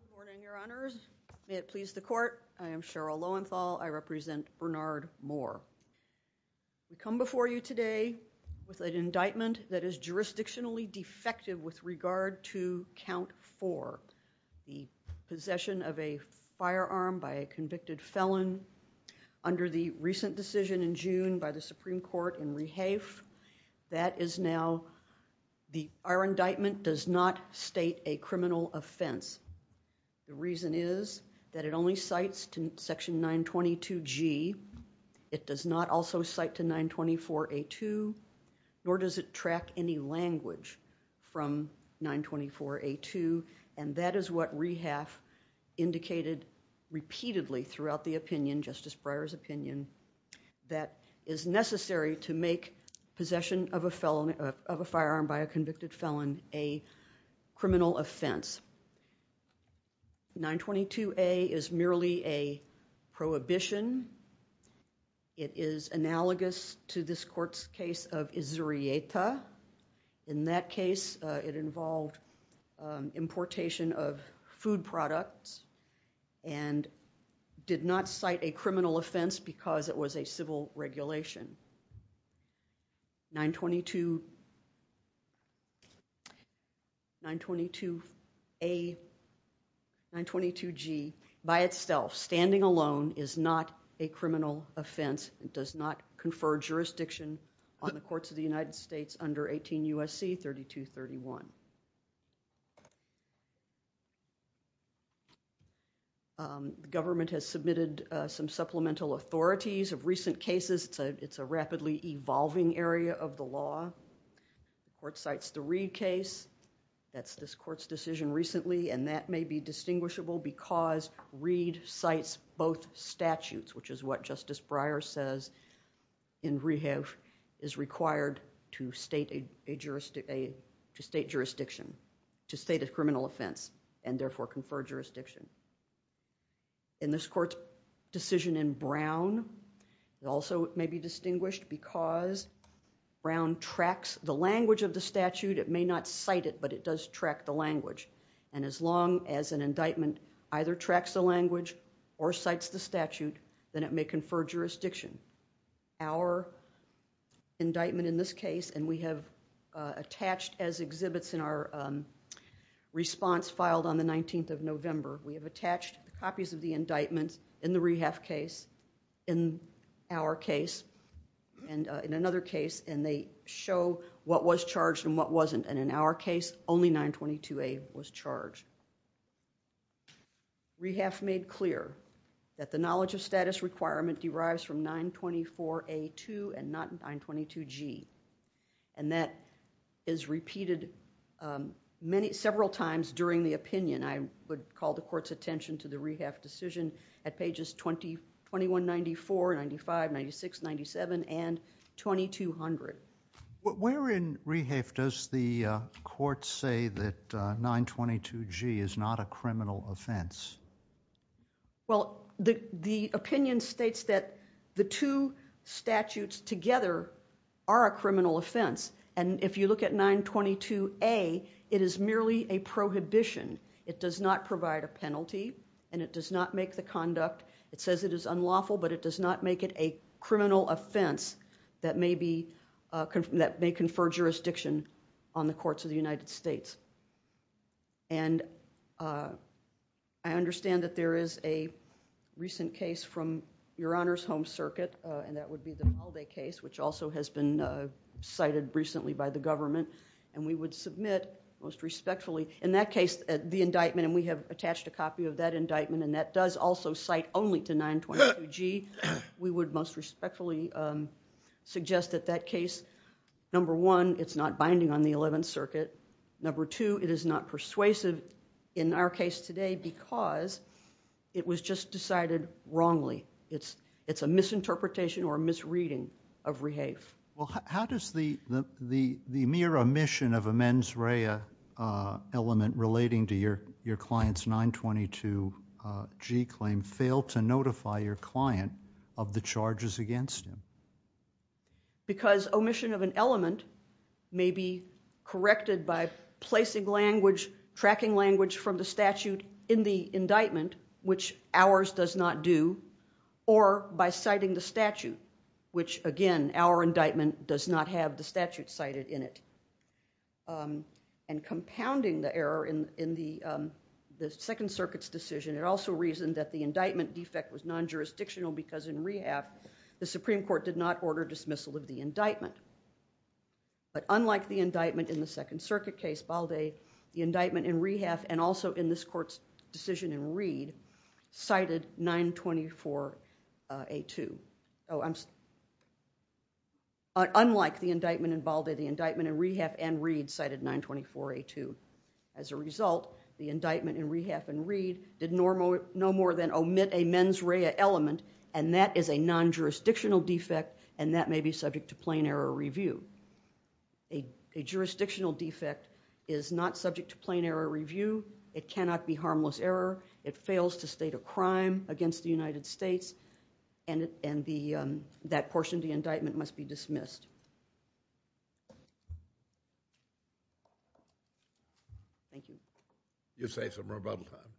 Good morning, Your Honors. May it please the Court, I am Cheryl Lowenthal. I represent Bernard Moore. We come before you today with an indictment that is jurisdictionally defective with regard to Count 4, the possession of a firearm by a convicted felon under the recent decision in June by the Supreme Court in Rehafe. That is now, our indictment does not state a criminal offense. The reason is that it only cites Section 922G. It does not also cite to 924A2, nor does it track any language from 924A2. And that is what Rehafe indicated repeatedly throughout the opinion, Justice Breyer's opinion, that is necessary to make possession of a firearm by a convicted felon a criminal offense. 922A is merely a prohibition. It is analogous to this Court's case of Izurieta. In that case, it involved importation of food products and did not cite a criminal offense because it was a civil regulation. 922A, 922G, by itself, standing alone is not a criminal offense. It does not confer jurisdiction on the courts of the United States under 18 U.S.C. 3231. The government has submitted some supplemental authorities of recent cases. It's a rapidly evolving area of the law. The court cites the Reed case. That's this Court's decision recently, and that may be distinguishable because Reed cites both statutes, which is what Justice Breyer says in Rehafe is required to state a jurisdiction, to state a criminal offense, and therefore confer jurisdiction. In this Court's decision in Brown, it also may be distinguished because Brown tracks the language of the statute. It may not cite it, but it does track the language, and as long as an indictment either tracks the language or cites the statute, then it may confer jurisdiction. Our indictment in this case, and we have attached as exhibits in our response filed on the 19th of November, we have attached copies of the indictments in the Rehafe case, in our case, and in another case, and they show what was charged and what wasn't, and in our case, only 922A was charged. Rehafe made clear that the knowledge of status requirement derives from 924A2 and not 922G, and that is repeated several times during the opinion. I would call the Court's attention to the Rehafe decision at pages 2194, 95, 96, 97, and 2200. Where in Rehafe does the Court say that 922G is not a criminal offense? Well, the opinion states that the two statutes together are a criminal offense, and if you look at 922A, it is merely a prohibition. It does not provide a penalty, and it does not make the conduct, it says it is unlawful, but it does not make it a criminal offense that may confer jurisdiction on the courts of the United States, and I understand that there is a recent case from Your Honor's home circuit, and that would be the Malday case, which also has been cited recently by the government, and we would submit, most respectfully, in that case, the indictment, and we have attached a copy of that indictment, and that does also cite only to 922G. We would most respectfully suggest that that case, number one, it's not binding on the Eleventh Circuit. Number two, it is not persuasive in our case today because it was just decided wrongly. It's a misinterpretation or a misreading of REHAFE. Well, how does the mere omission of a mens rea element relating to your client's 922G claim fail to notify your client of the charges against him? Because omission of an element may be corrected by placing language, language from the statute in the indictment, which ours does not do, or by citing the statute, which, again, our indictment does not have the statute cited in it. And compounding the error in the Second Circuit's decision, it also reasoned that the indictment defect was non-jurisdictional because in REHAFE, the Supreme Court did not order dismissal of the indictment. But unlike the indictment in the Second Circuit case, Balde, the indictment in REHAFE and also in this court's decision in Reed cited 924A2. Oh, I'm sorry. Unlike the indictment in Balde, the indictment in REHAFE and Reed cited 924A2. As a result, the indictment in REHAFE and Reed did no more than omit a mens rea element, and that is a non-jurisdictional defect, and that may be subject to plain error review. A jurisdictional defect is not subject to plain error review. It cannot be harmless error. It fails to state a crime against the United States, and that portion of the indictment must be dismissed. Thank you. You saved some rebuttal time.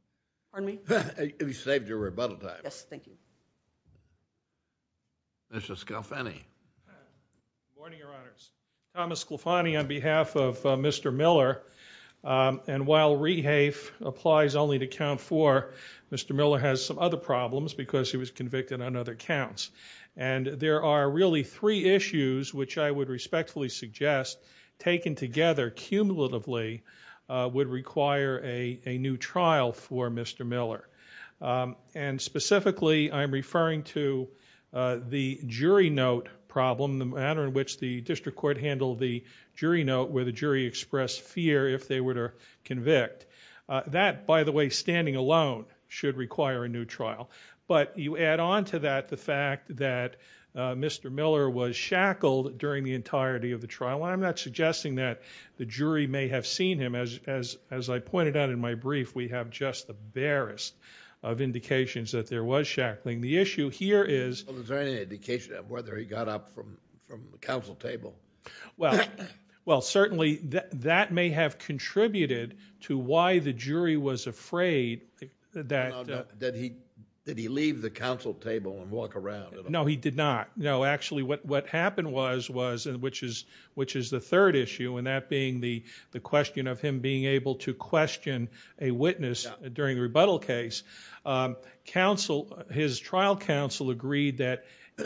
Pardon me? You saved your rebuttal time. Yes, thank you. Mr. Scalfani. Good morning, Your Honors. Thomas Scalfani on behalf of Mr. Miller. And while REHAFE applies only to count four, Mr. Miller has some other problems because he was convicted on other counts. And there are really three issues which I would respectfully suggest taken together cumulatively would require a new trial for Mr. Miller. And specifically, I'm referring to the jury note problem, the manner in which the district court handled the jury note where the jury expressed fear if they were to convict. That, by the way, standing alone, should require a new trial. But you add on to that the fact that Mr. Miller was shackled during the entirety of the trial, and I'm not suggesting that the jury may have seen him. As I pointed out in my brief, we have just the barest of indications that there was shackling. The issue here is – Well, is there any indication of whether he got up from the council table? Well, certainly that may have contributed to why the jury was afraid that – Did he leave the council table and walk around at all? No, he did not. No, actually what happened was, which is the third issue, and that being the question of him being able to question a witness during the rebuttal case, his trial counsel agreed that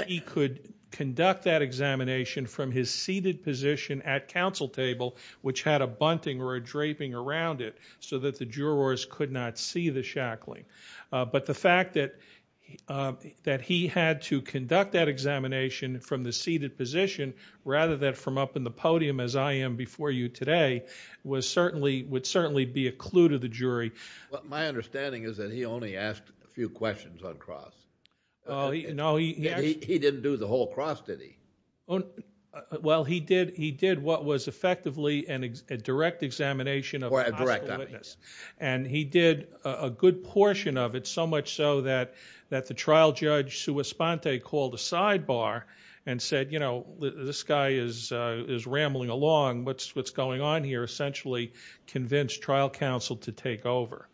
he could conduct that examination from his seated position at council table, which had a bunting or a draping around it so that the jurors could not see the shackling. But the fact that he had to conduct that examination from the seated position rather than from up in the podium as I am before you today would certainly be a clue to the jury. My understanding is that he only asked a few questions on cross. No, he actually – He didn't do the whole cross, did he? Well, he did what was effectively a direct examination of a possible witness. And he did a good portion of it, so much so that the trial judge, called a sidebar and said, you know, this guy is rambling along. What's going on here? Essentially convinced trial counsel to take over.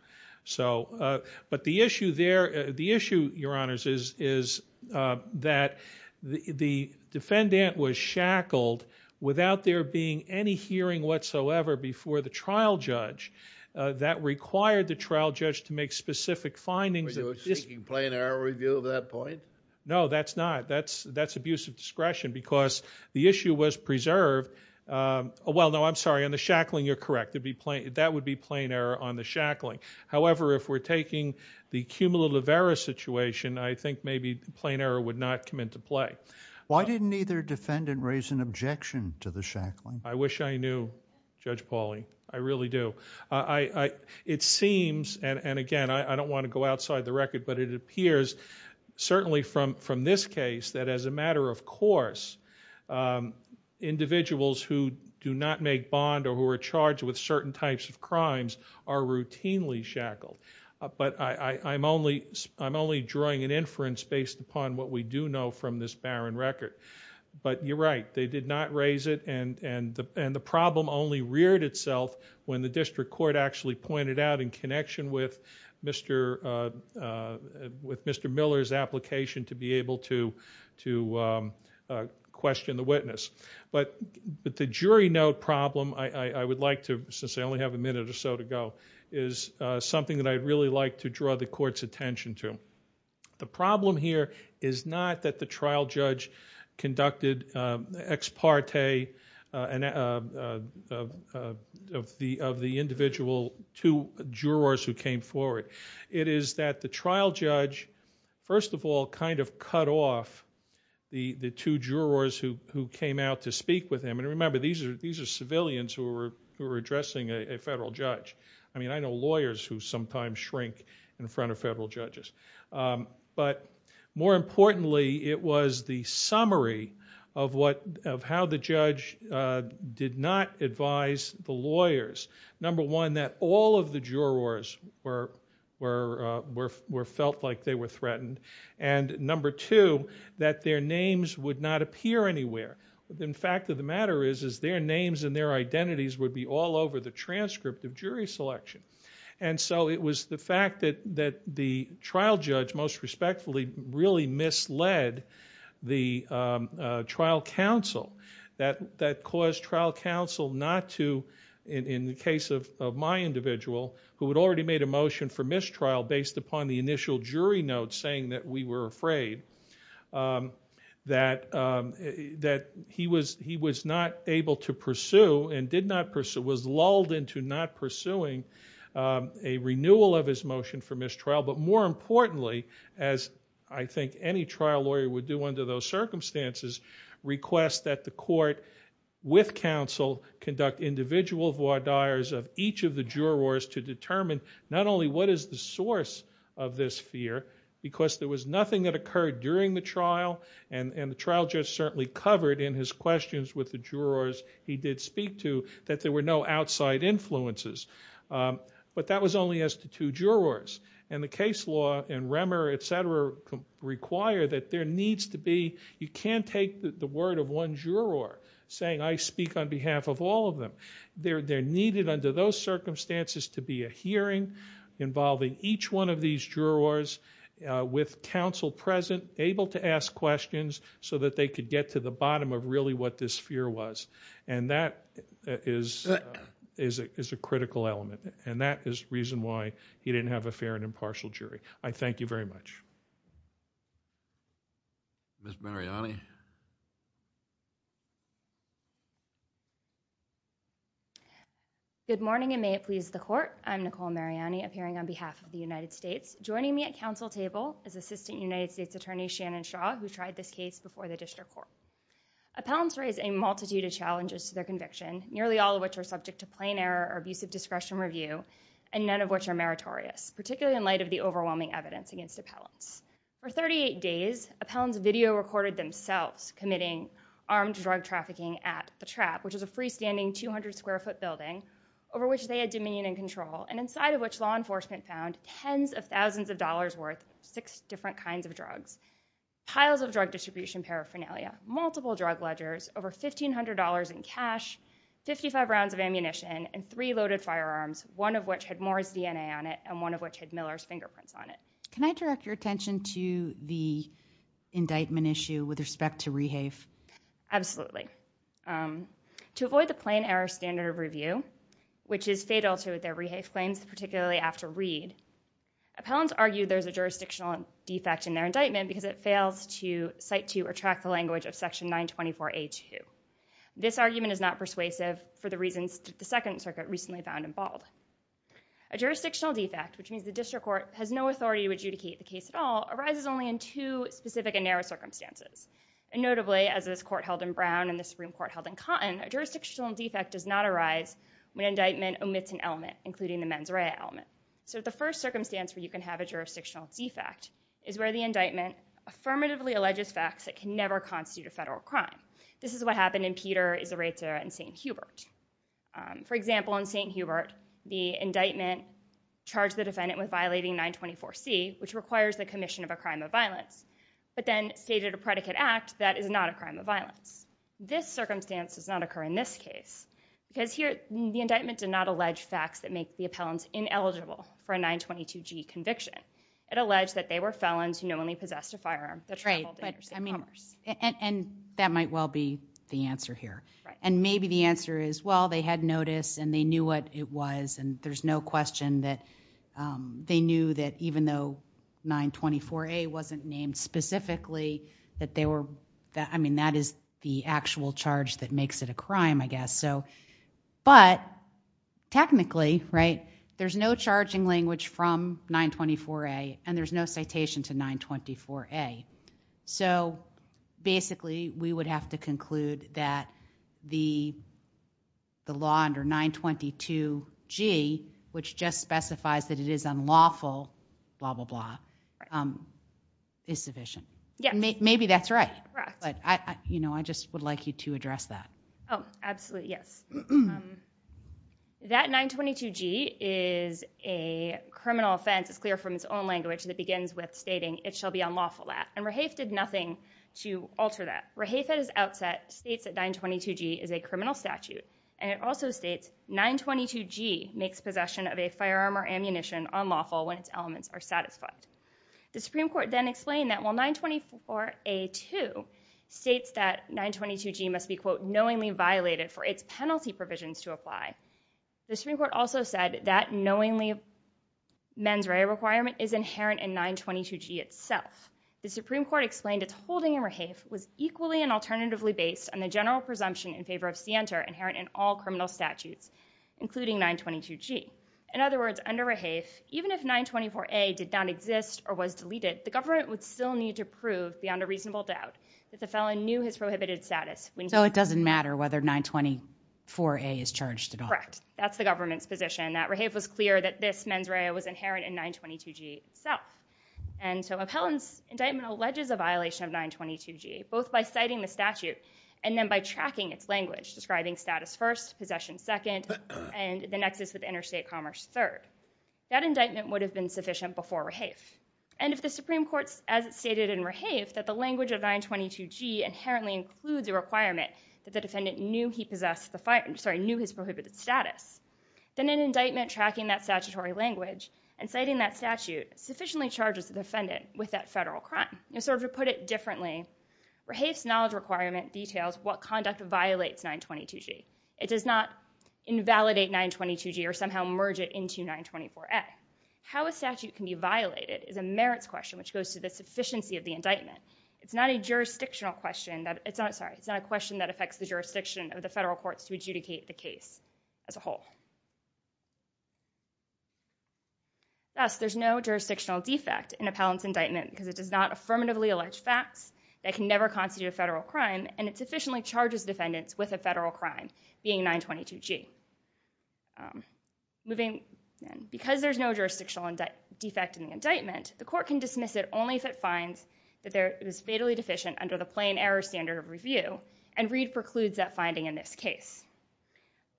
But the issue there – the issue, Your Honors, is that the defendant was shackled without there being any hearing whatsoever before the trial judge. That required the trial judge to make specific findings. Were you seeking plain error review of that point? No, that's not. That's abuse of discretion because the issue was preserved – well, no, I'm sorry. On the shackling, you're correct. That would be plain error on the shackling. However, if we're taking the cumulative error situation, I think maybe plain error would not come into play. Why didn't either defendant raise an objection to the shackling? I wish I knew, Judge Pauli. I really do. It seems – and, again, I don't want to go outside the record – but it appears, certainly from this case, that as a matter of course, individuals who do not make bond or who are charged with certain types of crimes are routinely shackled. But I'm only drawing an inference based upon what we do know from this barren record. But you're right. They did not raise it, and the problem only reared itself when the district court actually pointed out in connection with Mr. Miller's application to be able to question the witness. But the jury note problem I would like to – since I only have a minute or so to go – is something that I'd really like to draw the court's attention to. The problem here is not that the trial judge conducted ex parte of the individual two jurors who came forward. It is that the trial judge, first of all, kind of cut off the two jurors who came out to speak with him. And remember, these are civilians who are addressing a federal judge. I mean, I know lawyers who sometimes shrink in front of federal judges. But more importantly, it was the summary of how the judge did not advise the lawyers. Number one, that all of the jurors were felt like they were threatened. And number two, that their names would not appear anywhere. The fact of the matter is, is their names and their identities would be all over the transcript of jury selection. And so it was the fact that the trial judge most respectfully really misled the trial counsel that caused trial counsel not to, in the case of my individual, who had already made a motion for mistrial based upon the initial jury note saying that we were afraid, that he was not able to pursue and was lulled into not pursuing a renewal of his motion for mistrial. But more importantly, as I think any trial lawyer would do under those circumstances, request that the court with counsel conduct individual voir dires of each of the jurors to determine not only what is the source of this fear, because there was nothing that occurred during the trial, and the trial judge certainly covered in his questions with the jurors he did speak to that there were no outside influences. But that was only as to two jurors. And the case law and Remmer, et cetera, require that there needs to be, you can't take the word of one juror saying, I speak on behalf of all of them. There needed under those circumstances to be a hearing involving each one of these jurors with counsel present, able to ask questions, so that they could get to the bottom of really what this fear was. And that is a critical element. And that is the reason why he didn't have a fair and impartial jury. I thank you very much. Ms. Mariani. Good morning, and may it please the court. I'm Nicole Mariani, appearing on behalf of the United States. Joining me at council table is Assistant United States Attorney Shannon Shaw, who tried this case before the district court. Appellants raise a multitude of challenges to their conviction, nearly all of which are subject to plain error or abusive discretion review, and none of which are meritorious, particularly in light of the overwhelming evidence against appellants. For 38 days, appellants video recorded themselves committing armed drug trafficking at The Trap, which is a freestanding 200 square foot building, over which they had dominion and control, and inside of which law enforcement found tens of thousands of dollars worth of six different kinds of drugs, piles of drug distribution paraphernalia, multiple drug ledgers, over $1,500 in cash, 55 rounds of ammunition, and three loaded firearms, one of which had Moore's DNA on it, and one of which had Miller's fingerprints on it. Can I direct your attention to the indictment issue with respect to rehafe? Absolutely. To avoid the plain error standard of review, which is fatal to their rehafe claims, particularly after read, appellants argue there's a jurisdictional defect in their indictment because it fails to cite to or track the language of section 924A2. This argument is not persuasive for the reasons that the Second Circuit recently found involved. A jurisdictional defect, which means the district court has no authority to adjudicate the case at all, arises only in two specific and narrow circumstances. And notably, as this court held in Brown and this Supreme Court held in Cotton, a jurisdictional defect does not arise when an indictment omits an element, including the mens rea element. So the first circumstance where you can have a jurisdictional defect is where the indictment affirmatively alleges facts that can never constitute a federal crime. This is what happened in Peter, Israeta, and St. Hubert. For example, in St. Hubert, the indictment charged the defendant with violating 924C, which requires the commission of a crime of violence, but then stated a predicate act that is not a crime of violence. This circumstance does not occur in this case because here the indictment did not allege facts that make the appellant ineligible for a 922G conviction. It alleged that they were felons who not only possessed a firearm but traveled interstate commerce. And that might well be the answer here. And maybe the answer is, well, they had notice and they knew what it was and there's no question that they knew that even though 924A wasn't named specifically, I mean, that is the actual charge that makes it a crime, I guess. But technically, there's no charging language from 924A and there's no citation to 924A. So basically, we would have to conclude that the law under 922G, which just specifies that it is unlawful, blah, blah, blah, is sufficient. Maybe that's right, but I just would like you to address that. Oh, absolutely, yes. That 922G is a criminal offense, it's clear from its own language that begins with stating, it shall be unlawful that. And Rahafe did nothing to alter that. Rahafe at his outset states that 922G is a criminal statute and it also states 922G makes possession of a firearm or ammunition unlawful when its elements are satisfied. The Supreme Court then explained that while 924A2 states that 922G must be, quote, knowingly violated for its penalty provisions to apply, the Supreme Court also said that knowingly mens rea requirement is inherent in 922G itself. The Supreme Court explained its holding in Rahafe was equally and alternatively based on the general presumption in favor of scienter inherent in all criminal statutes, including 922G. In other words, under Rahafe, even if 924A did not exist or was deleted, the government would still need to prove beyond a reasonable doubt that the felon knew his prohibited status. So it doesn't matter whether 924A is charged at all. Correct. That's the government's position, that Rahafe was clear that this mens rea was inherent in 922G itself. And so Appellant's indictment alleges a violation of 922G, both by citing the statute and then by tracking its language, describing status first, possession second, and the nexus with interstate commerce third. That indictment would have been sufficient before Rahafe. And if the Supreme Court, as it stated in Rahafe, that the language of 922G inherently includes a requirement that the defendant knew his prohibited status, then an indictment tracking that statutory language and citing that statute sufficiently charges the defendant with that federal crime. So to put it differently, Rahafe's knowledge requirement details what conduct violates 922G. It does not invalidate 922G or somehow merge it into 924A. How a statute can be violated is a merits question, which goes to the sufficiency of the indictment. It's not a question that affects the jurisdiction of the federal courts to adjudicate the case as a whole. Thus, there's no jurisdictional defect in Appellant's indictment because it does not affirmatively allege facts that can never constitute a federal crime, and it sufficiently charges defendants with a federal crime, being 922G. Because there's no jurisdictional defect in the indictment, the court can dismiss it only if it finds that it was fatally deficient under the plain error standard of review, and Reed precludes that finding in this case.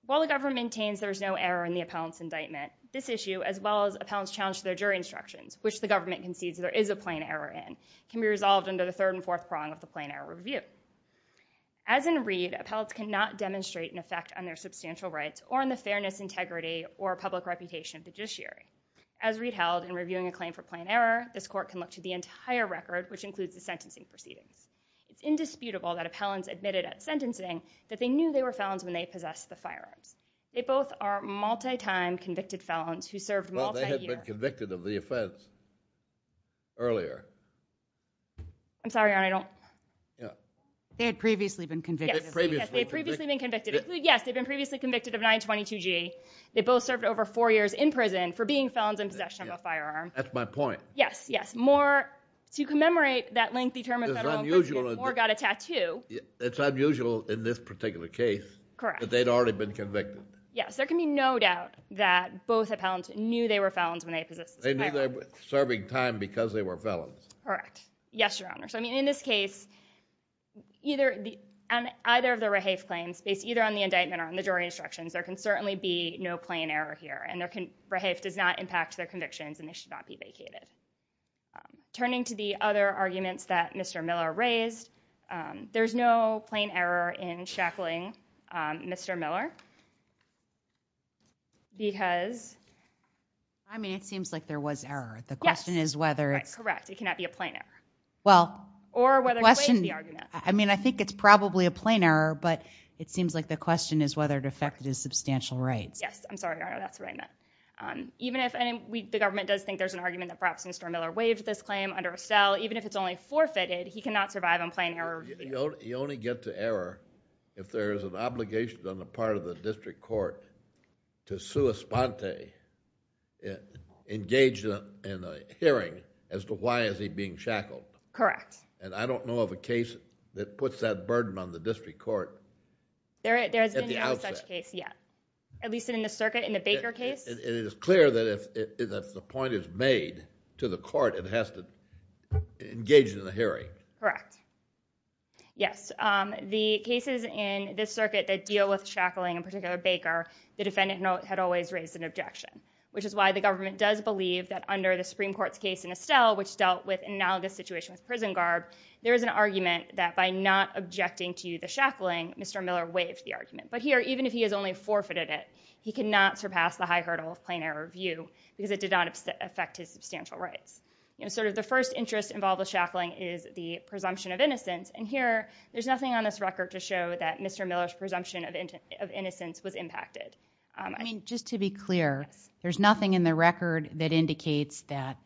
While the government maintains there's no error in the Appellant's indictment, this issue, as well as Appellant's challenge to their jury instructions, which the government concedes there is a plain error in, can be resolved under the third and fourth prong of the plain error review. As in Reed, Appellants cannot demonstrate an effect on their substantial rights or on the fairness, integrity, or public reputation of the judiciary. As Reed held in reviewing a claim for plain error, this court can look to the entire record, which includes the sentencing proceedings. It's indisputable that Appellants admitted at sentencing that they knew they were felons when they possessed the firearms. They both are multi-time convicted felons who served multi-years. Well, they had been convicted of the offense earlier. I'm sorry, Your Honor, I don't... They had previously been convicted. Yes, they had previously been convicted. Yes, they had been previously convicted of 922G. They both served over four years in prison for being felons in possession of a firearm. That's my point. Yes, yes. More... To commemorate that lengthy term, it's unusual in this particular case that they'd already been convicted. Yes, there can be no doubt that both Appellants knew they were felons when they possessed the firearms. They knew they were serving time because they were felons. Correct. Yes, Your Honor. So, I mean, in this case, either of the Rahaf claims, based either on the indictment or on the jury instructions, there can certainly be no plain error here, and Rahaf does not impact their convictions, and they should not be vacated. Turning to the other arguments that Mr. Miller raised, there's no plain error in shackling Mr. Miller because... I mean, it seems like there was error. Yes. The question is whether... Correct, it cannot be a plain error. Well... Or whether... The question... I mean, I think it's probably a plain error, but it seems like the question is whether it affected his substantial rights. Yes, I'm sorry, Your Honor, that's what I meant. Even if... The government does think there's an argument that perhaps Mr. Miller waived this claim under Estelle. Even if it's only forfeited, he cannot survive on plain error. You only get to error if there is an obligation on the part of the district court to sua sponte, engage in a hearing, as to why is he being shackled. Correct. And I don't know of a case that puts that burden on the district court at the outset. There has been no such case yet, at least in the circuit, in the Baker case. And it is clear that if the point is made to the court, it has to engage in a hearing. Correct. Yes, the cases in this circuit that deal with shackling, in particular Baker, the defendant had always raised an objection, which is why the government does believe that under the Supreme Court's case in Estelle, which dealt with an analogous situation with prison guard, there is an argument that by not objecting to the shackling, Mr. Miller waived the argument. But here, even if he has only forfeited it, he cannot surpass the high hurdle of plain error review because it did not affect his substantial rights. You know, sort of the first interest involved with shackling is the presumption of innocence. And here, there's nothing on this record to show that Mr. Miller's presumption of innocence was impacted. I mean, just to be clear, there's nothing in the record that indicates that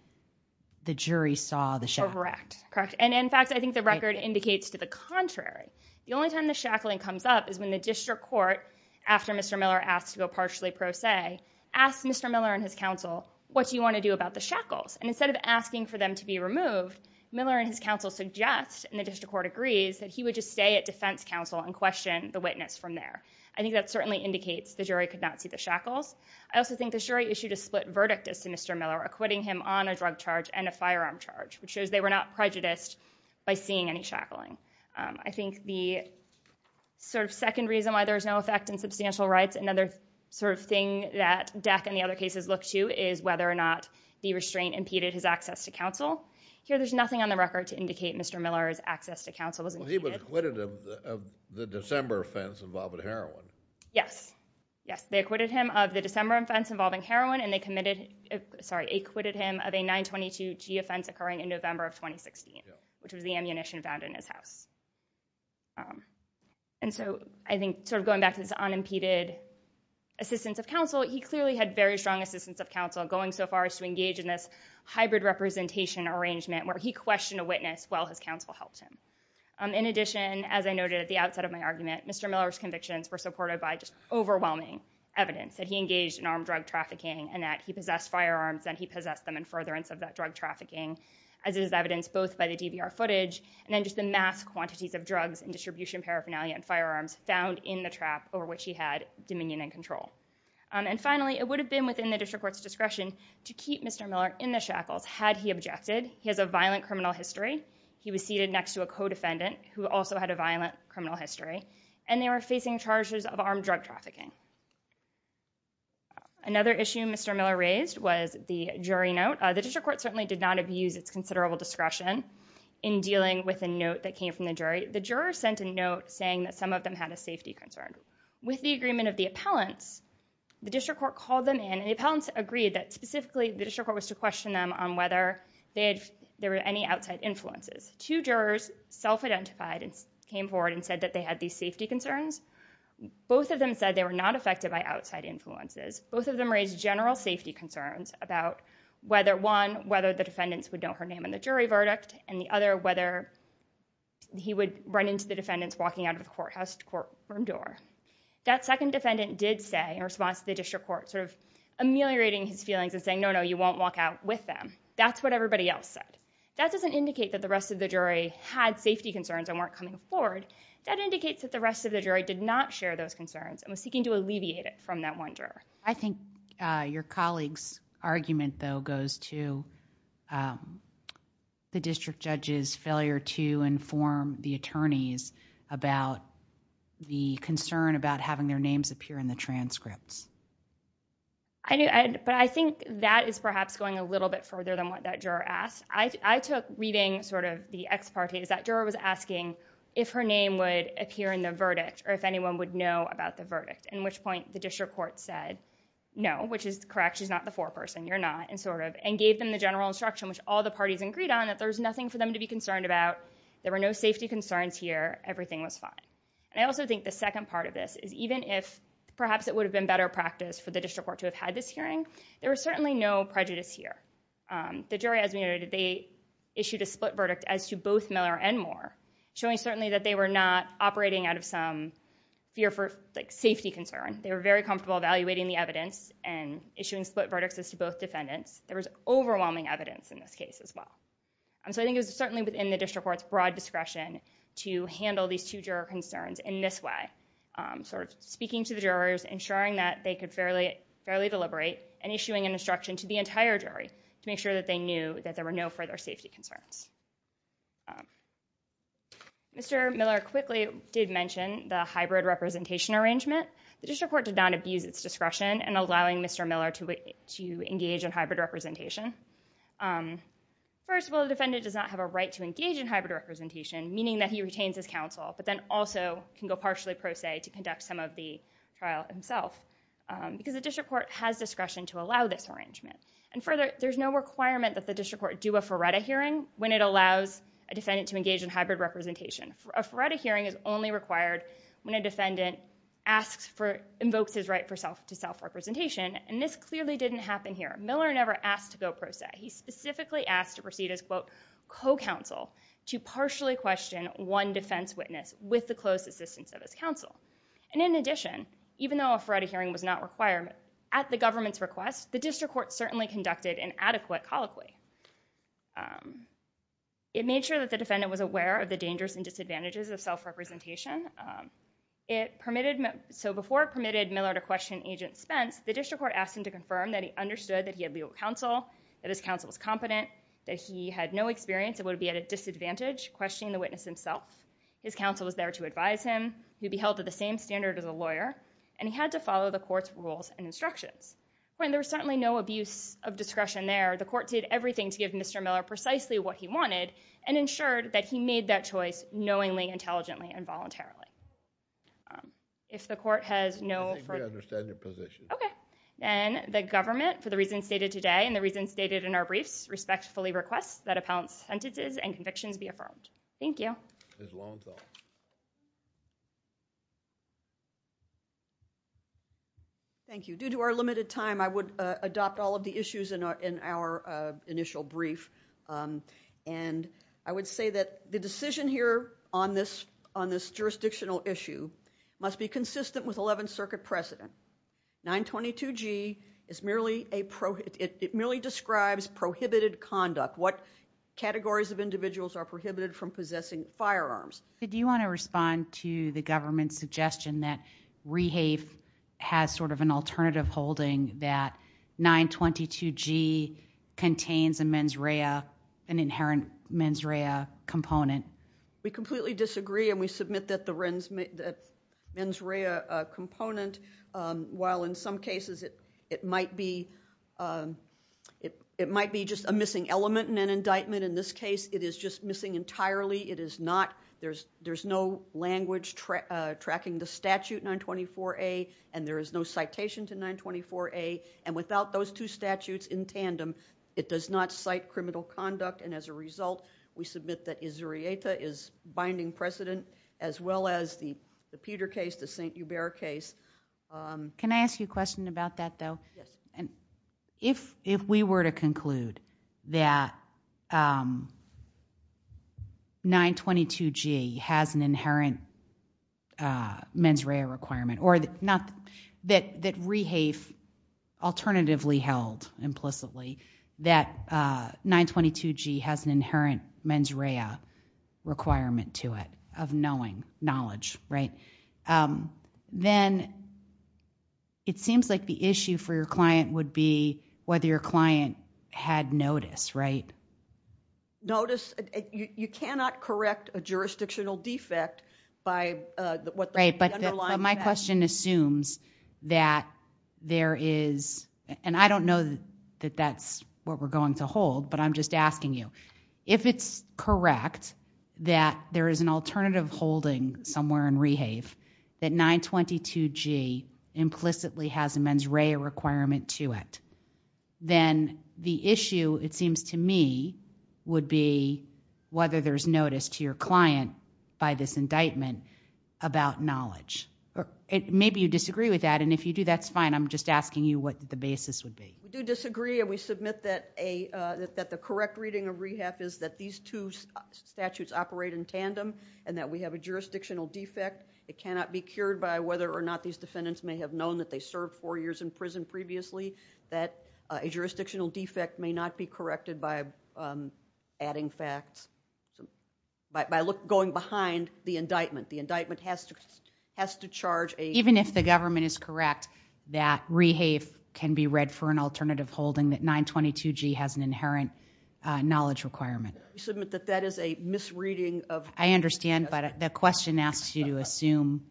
the jury saw the shackling. Correct. And in fact, I think the record indicates to the contrary. The only time the shackling comes up is when the district court, after Mr. Miller asked to go partially pro se, asks Mr. Miller and his counsel, what do you want to do about the shackles? And instead of asking for them to be removed, Miller and his counsel suggest, and the district court agrees, that he would just stay at defense counsel and question the witness from there. I think that certainly indicates the jury could not see the shackles. I also think the jury issued a split verdict to Mr. Miller, acquitting him on a drug charge and a firearm charge, which shows they were not prejudiced by seeing any shackling. I think the sort of second reason why there's no effect in substantial rights, another sort of thing that Deck and the other cases look to, is whether or not the restraint impeded his access to counsel. Here, there's nothing on the record to indicate Mr. Miller's access to counsel was impeded. He was acquitted of the December offense involving heroin. Yes. Yes, they acquitted him of the December offense involving heroin, and they committed, sorry, acquitted him of a 922-G offense occurring in November of 2016, which was the ammunition found in his house. And so I think sort of going back to this unimpeded assistance of counsel, he clearly had very strong assistance of counsel going so far as to engage in this hybrid representation arrangement where he questioned a witness while his counsel helped him. In addition, as I noted at the outset of my argument, Mr. Miller's convictions were supported by just overwhelming evidence that he engaged in armed drug trafficking and that he possessed firearms and he possessed them in furtherance of that drug trafficking, as is evidenced both by the DVR footage and then just the mass quantities of drugs and distribution paraphernalia and firearms found in the trap over which he had dominion and control. And finally, it would have been within the district court's discretion to keep Mr. Miller in the shackles had he objected. He has a violent criminal history. He was seated next to a co-defendant who also had a violent criminal history, and they were facing charges of armed drug trafficking. Another issue Mr. Miller raised was the jury note. The district court certainly did not abuse its considerable discretion in dealing with a note that came from the jury. The juror sent a note saying that some of them had a safety concern. With the agreement of the appellants, the district court called them in and the appellants agreed that specifically the district court was to question them on whether there were any outside influences. Two jurors self-identified and came forward and said that they had these safety concerns. Both of them said they were not affected by outside influences. Both of them raised general safety concerns about whether, one, whether the defendants would know her name in the jury verdict, and the other, whether he would run into the defendants walking out of the courthouse to the courtroom door. That second defendant did say, in response to the district court, sort of ameliorating his feelings and saying, no, no, you won't walk out with them. That's what everybody else said. That doesn't indicate that the rest of the jury had safety concerns and weren't coming forward. That indicates that the rest of the jury did not share those concerns and was seeking to alleviate it from that one juror. I think your colleague's argument, though, goes to the district judge's failure to inform the attorneys about the concern about having their names appear in the transcripts. But I think that is perhaps going a little bit further than what that juror asked. I took reading sort of the ex parte, is that juror was asking if her name would appear in the verdict or if anyone would know about the verdict, at which point the district court said, no, which is correct. She's not the foreperson. You're not. And gave them the general instruction, which all the parties agreed on, that there was nothing for them to be concerned about. There were no safety concerns here. Everything was fine. And I also think the second part of this is even if perhaps it would have been better practice for the district court to have had this hearing, there was certainly no prejudice here. The jury, as we noted, they issued a split verdict as to both Miller and Moore, showing certainly that they were not operating out of some fear for safety concern. They were very comfortable evaluating the evidence and issuing split verdicts as to both defendants. There was overwhelming evidence in this case as well. And so I think it was certainly within the district court's broad discretion to handle these two juror concerns in this way, sort of speaking to the jurors, ensuring that they could fairly deliberate, and issuing an instruction to the entire jury to make sure that they knew that there were no further safety concerns. Mr. Miller quickly did mention the hybrid representation arrangement. The district court did not abuse its discretion in allowing Mr. Miller to engage in hybrid representation. First of all, the defendant does not have a right to engage in hybrid representation, meaning that he retains his counsel, but then also can go partially pro se to conduct some of the trial himself. Because the district court has discretion to allow this arrangement. And further, there's no requirement that the district court do a FARETA hearing when it allows a defendant to engage in hybrid representation. A FARETA hearing is only required when a defendant invokes his right to self-representation. And this clearly didn't happen here. Miller never asked to go pro se. He specifically asked to proceed as, quote, co-counsel to partially question one defense witness with the close assistance of his counsel. And in addition, even though a FARETA hearing was not required, at the government's request, the district court certainly conducted an adequate colloquy. It made sure that the defendant was aware of the dangers and disadvantages of self-representation. So before it permitted Miller to question Agent Spence, the district court asked him to confirm that he understood that he had legal counsel, that his counsel was competent, that he had no experience and would be at a disadvantage questioning the witness himself. His counsel was there to advise him. He would be held to the same standard as a lawyer. And he had to follow the court's rules and instructions. When there was certainly no abuse of discretion there, the court did everything to give Mr. Miller precisely what he wanted and ensured that he made that choice knowingly, intelligently, and voluntarily. If the court has no further- I think we understand your position. OK. Then the government, for the reasons stated today and the reasons stated in our briefs, respectfully requests that appellant's sentences and convictions be affirmed. Thank you. Ms. Lowenthal. Thank you. Due to our limited time, I would adopt all of the issues in our initial brief. And I would say that the decision here on this jurisdictional issue must be consistent with 11th Circuit precedent. 922G, it merely describes prohibited conduct, what categories of individuals are prohibited from possessing firearms. Do you want to respond to the government's suggestion that Rehave has sort of an alternative holding that 922G contains a mens rea, an inherent mens rea component? We completely disagree, and we submit that the mens rea component, while in some cases it might be just a missing element in an indictment, in this case it is just missing entirely. There's no language tracking the statute 924A, and there is no citation to 924A. And without those two statutes in tandem, it does not cite criminal conduct. And as a result, we submit that Izurieta is binding precedent, as well as the Peter case, the St. Hubert case. Can I ask you a question about that, though? Yes. If we were to conclude that 922G has an inherent mens rea requirement, or that Rehave alternatively held implicitly that 922G has an inherent mens rea requirement to it of knowing, knowledge, then it seems like the issue for your client would be whether your client had notice, right? Notice. You cannot correct a jurisdictional defect by what the underlying fact is. Right, but my question assumes that there is, and I don't know that that's what we're going to hold, but I'm just asking you. If it's correct that there is an alternative holding somewhere in Rehave that 922G implicitly has a mens rea requirement to it, then the issue, it seems to me, would be whether there's notice to your client by this indictment about knowledge. Maybe you disagree with that, and if you do, that's fine. I'm just asking you what the basis would be. We do disagree, and we submit that the correct reading of Rehave is that these two statutes operate in tandem, and that we have a jurisdictional defect. It cannot be cured by whether or not these defendants may have known that they served four years in prison previously, that a jurisdictional defect may not be corrected by adding facts, by going behind the indictment. The indictment has to charge a... Even if the government is correct that Rehave can be read for an alternative holding that 922G has an inherent knowledge requirement. We submit that that is a misreading of... I understand, but the question asks you to assume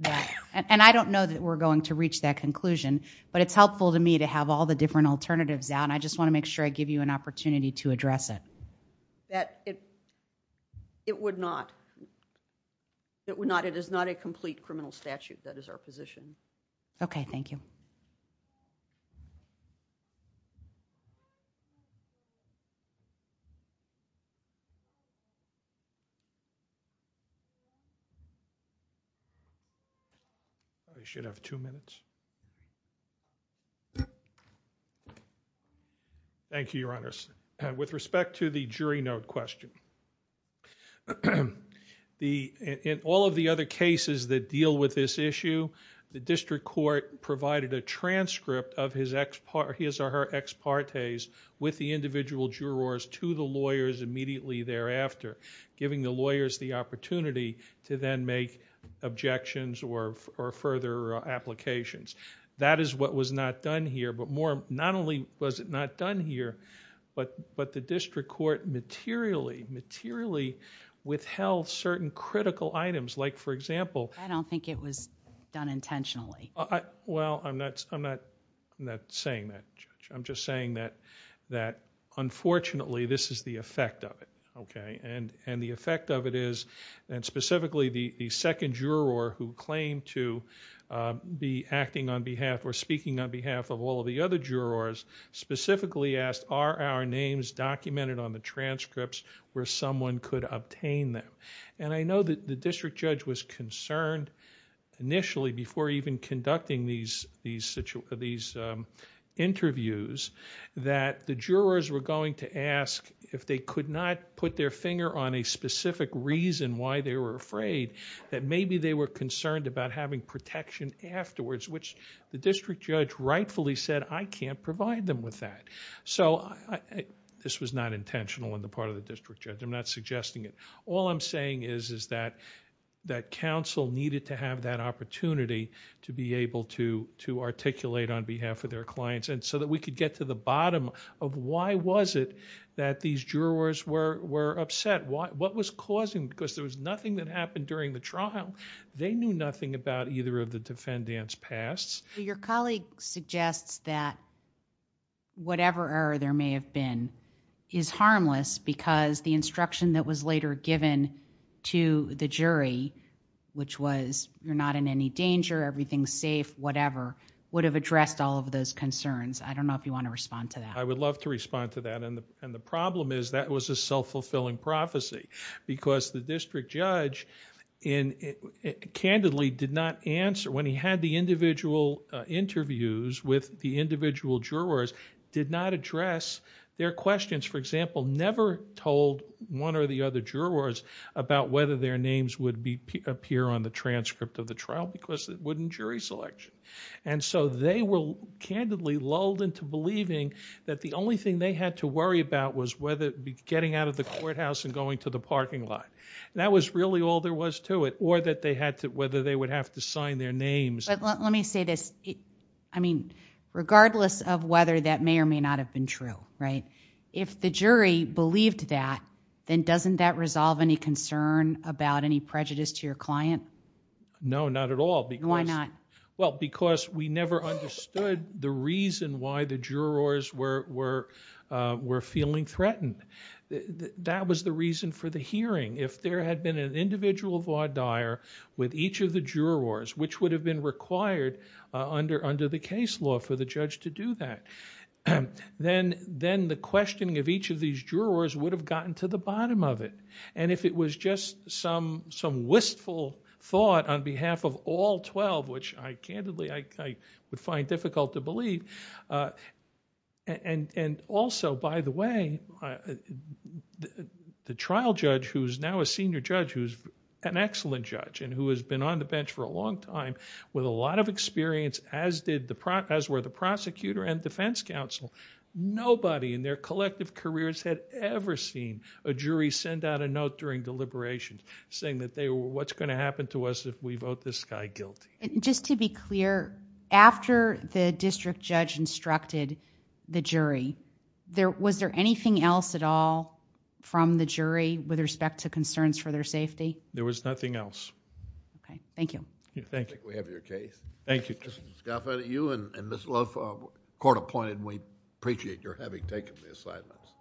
that... And I don't know that we're going to reach that conclusion, but it's helpful to me to have all the different alternatives out, and I just want to make sure I give you an opportunity to address it. That it would not. It is not a complete criminal statute that is our position. Okay, thank you. I should have two minutes. Thank you, Your Honor. With respect to the jury note question, in all of the other cases that deal with this issue, the district court provided a transcript of his or her ex partes with the individual jurors to the lawyers immediately thereafter, giving the lawyers the opportunity to then make objections or further applications. That is what was not done here, but not only was it not done here, but the district court materially withheld certain critical items, like, for example... I don't think it was done intentionally. Well, I'm not saying that, Judge. I'm just saying that, unfortunately, this is the effect of it. Okay? And the effect of it is, and specifically the second juror who claimed to be acting on behalf or speaking on behalf of all of the other jurors, specifically asked, are our names documented on the transcripts where someone could obtain them? And I know that the district judge was concerned initially before even conducting these interviews that the jurors were going to ask, if they could not put their finger on a specific reason why they were afraid, that maybe they were concerned about having protection afterwards, which the district judge rightfully said, I can't provide them with that. So this was not intentional on the part of the district judge. I'm not suggesting it. All I'm saying is that counsel needed to have that opportunity to be able to articulate on behalf of their clients so that we could get to the bottom of why was it that these jurors were upset? What was causing it? Because there was nothing that happened during the trial. They knew nothing about either of the defendant's pasts. Your colleague suggests that whatever error there may have been is harmless because the instruction that was later given to the jury, which was you're not in any danger, everything's safe, whatever, would have addressed all of those concerns. I don't know if you want to respond to that. I would love to respond to that, and the problem is that was a self-fulfilling prophecy because the district judge candidly did not answer, when he had the individual interviews with the individual jurors, did not address their questions. For example, never told one or the other jurors about whether their names would appear on the transcript of the trial because it wouldn't jury selection. And so they were candidly lulled into believing that the only thing they had to worry about was whether it would be getting out of the courthouse and going to the parking lot. That was really all there was to it, or whether they would have to sign their names. But let me say this. I mean, regardless of whether that may or may not have been true, right, if the jury believed that, then doesn't that resolve any concern about any prejudice to your client? No. No, not at all. Why not? Well, because we never understood the reason why the jurors were feeling threatened. That was the reason for the hearing. If there had been an individual voir dire with each of the jurors, which would have been required under the case law for the judge to do that, then the questioning of each of these jurors would have gotten to the bottom of it. And if it was just some wistful thought on behalf of all 12, which I candidly would find difficult to believe, and also, by the way, the trial judge, who's now a senior judge, who's an excellent judge and who has been on the bench for a long time, with a lot of experience as were the prosecutor and defense counsel, nobody in their collective careers had ever seen a jury send out a note during deliberations saying that, what's going to happen to us if we vote this guy guilty? Just to be clear, after the district judge instructed the jury, was there anything else at all from the jury with respect to concerns for their safety? There was nothing else. Okay. Thank you. Thank you. I think we have your case. Thank you. Mr. Scalf, you and Ms. Luff, court appointed, and we appreciate your having taken the assignments.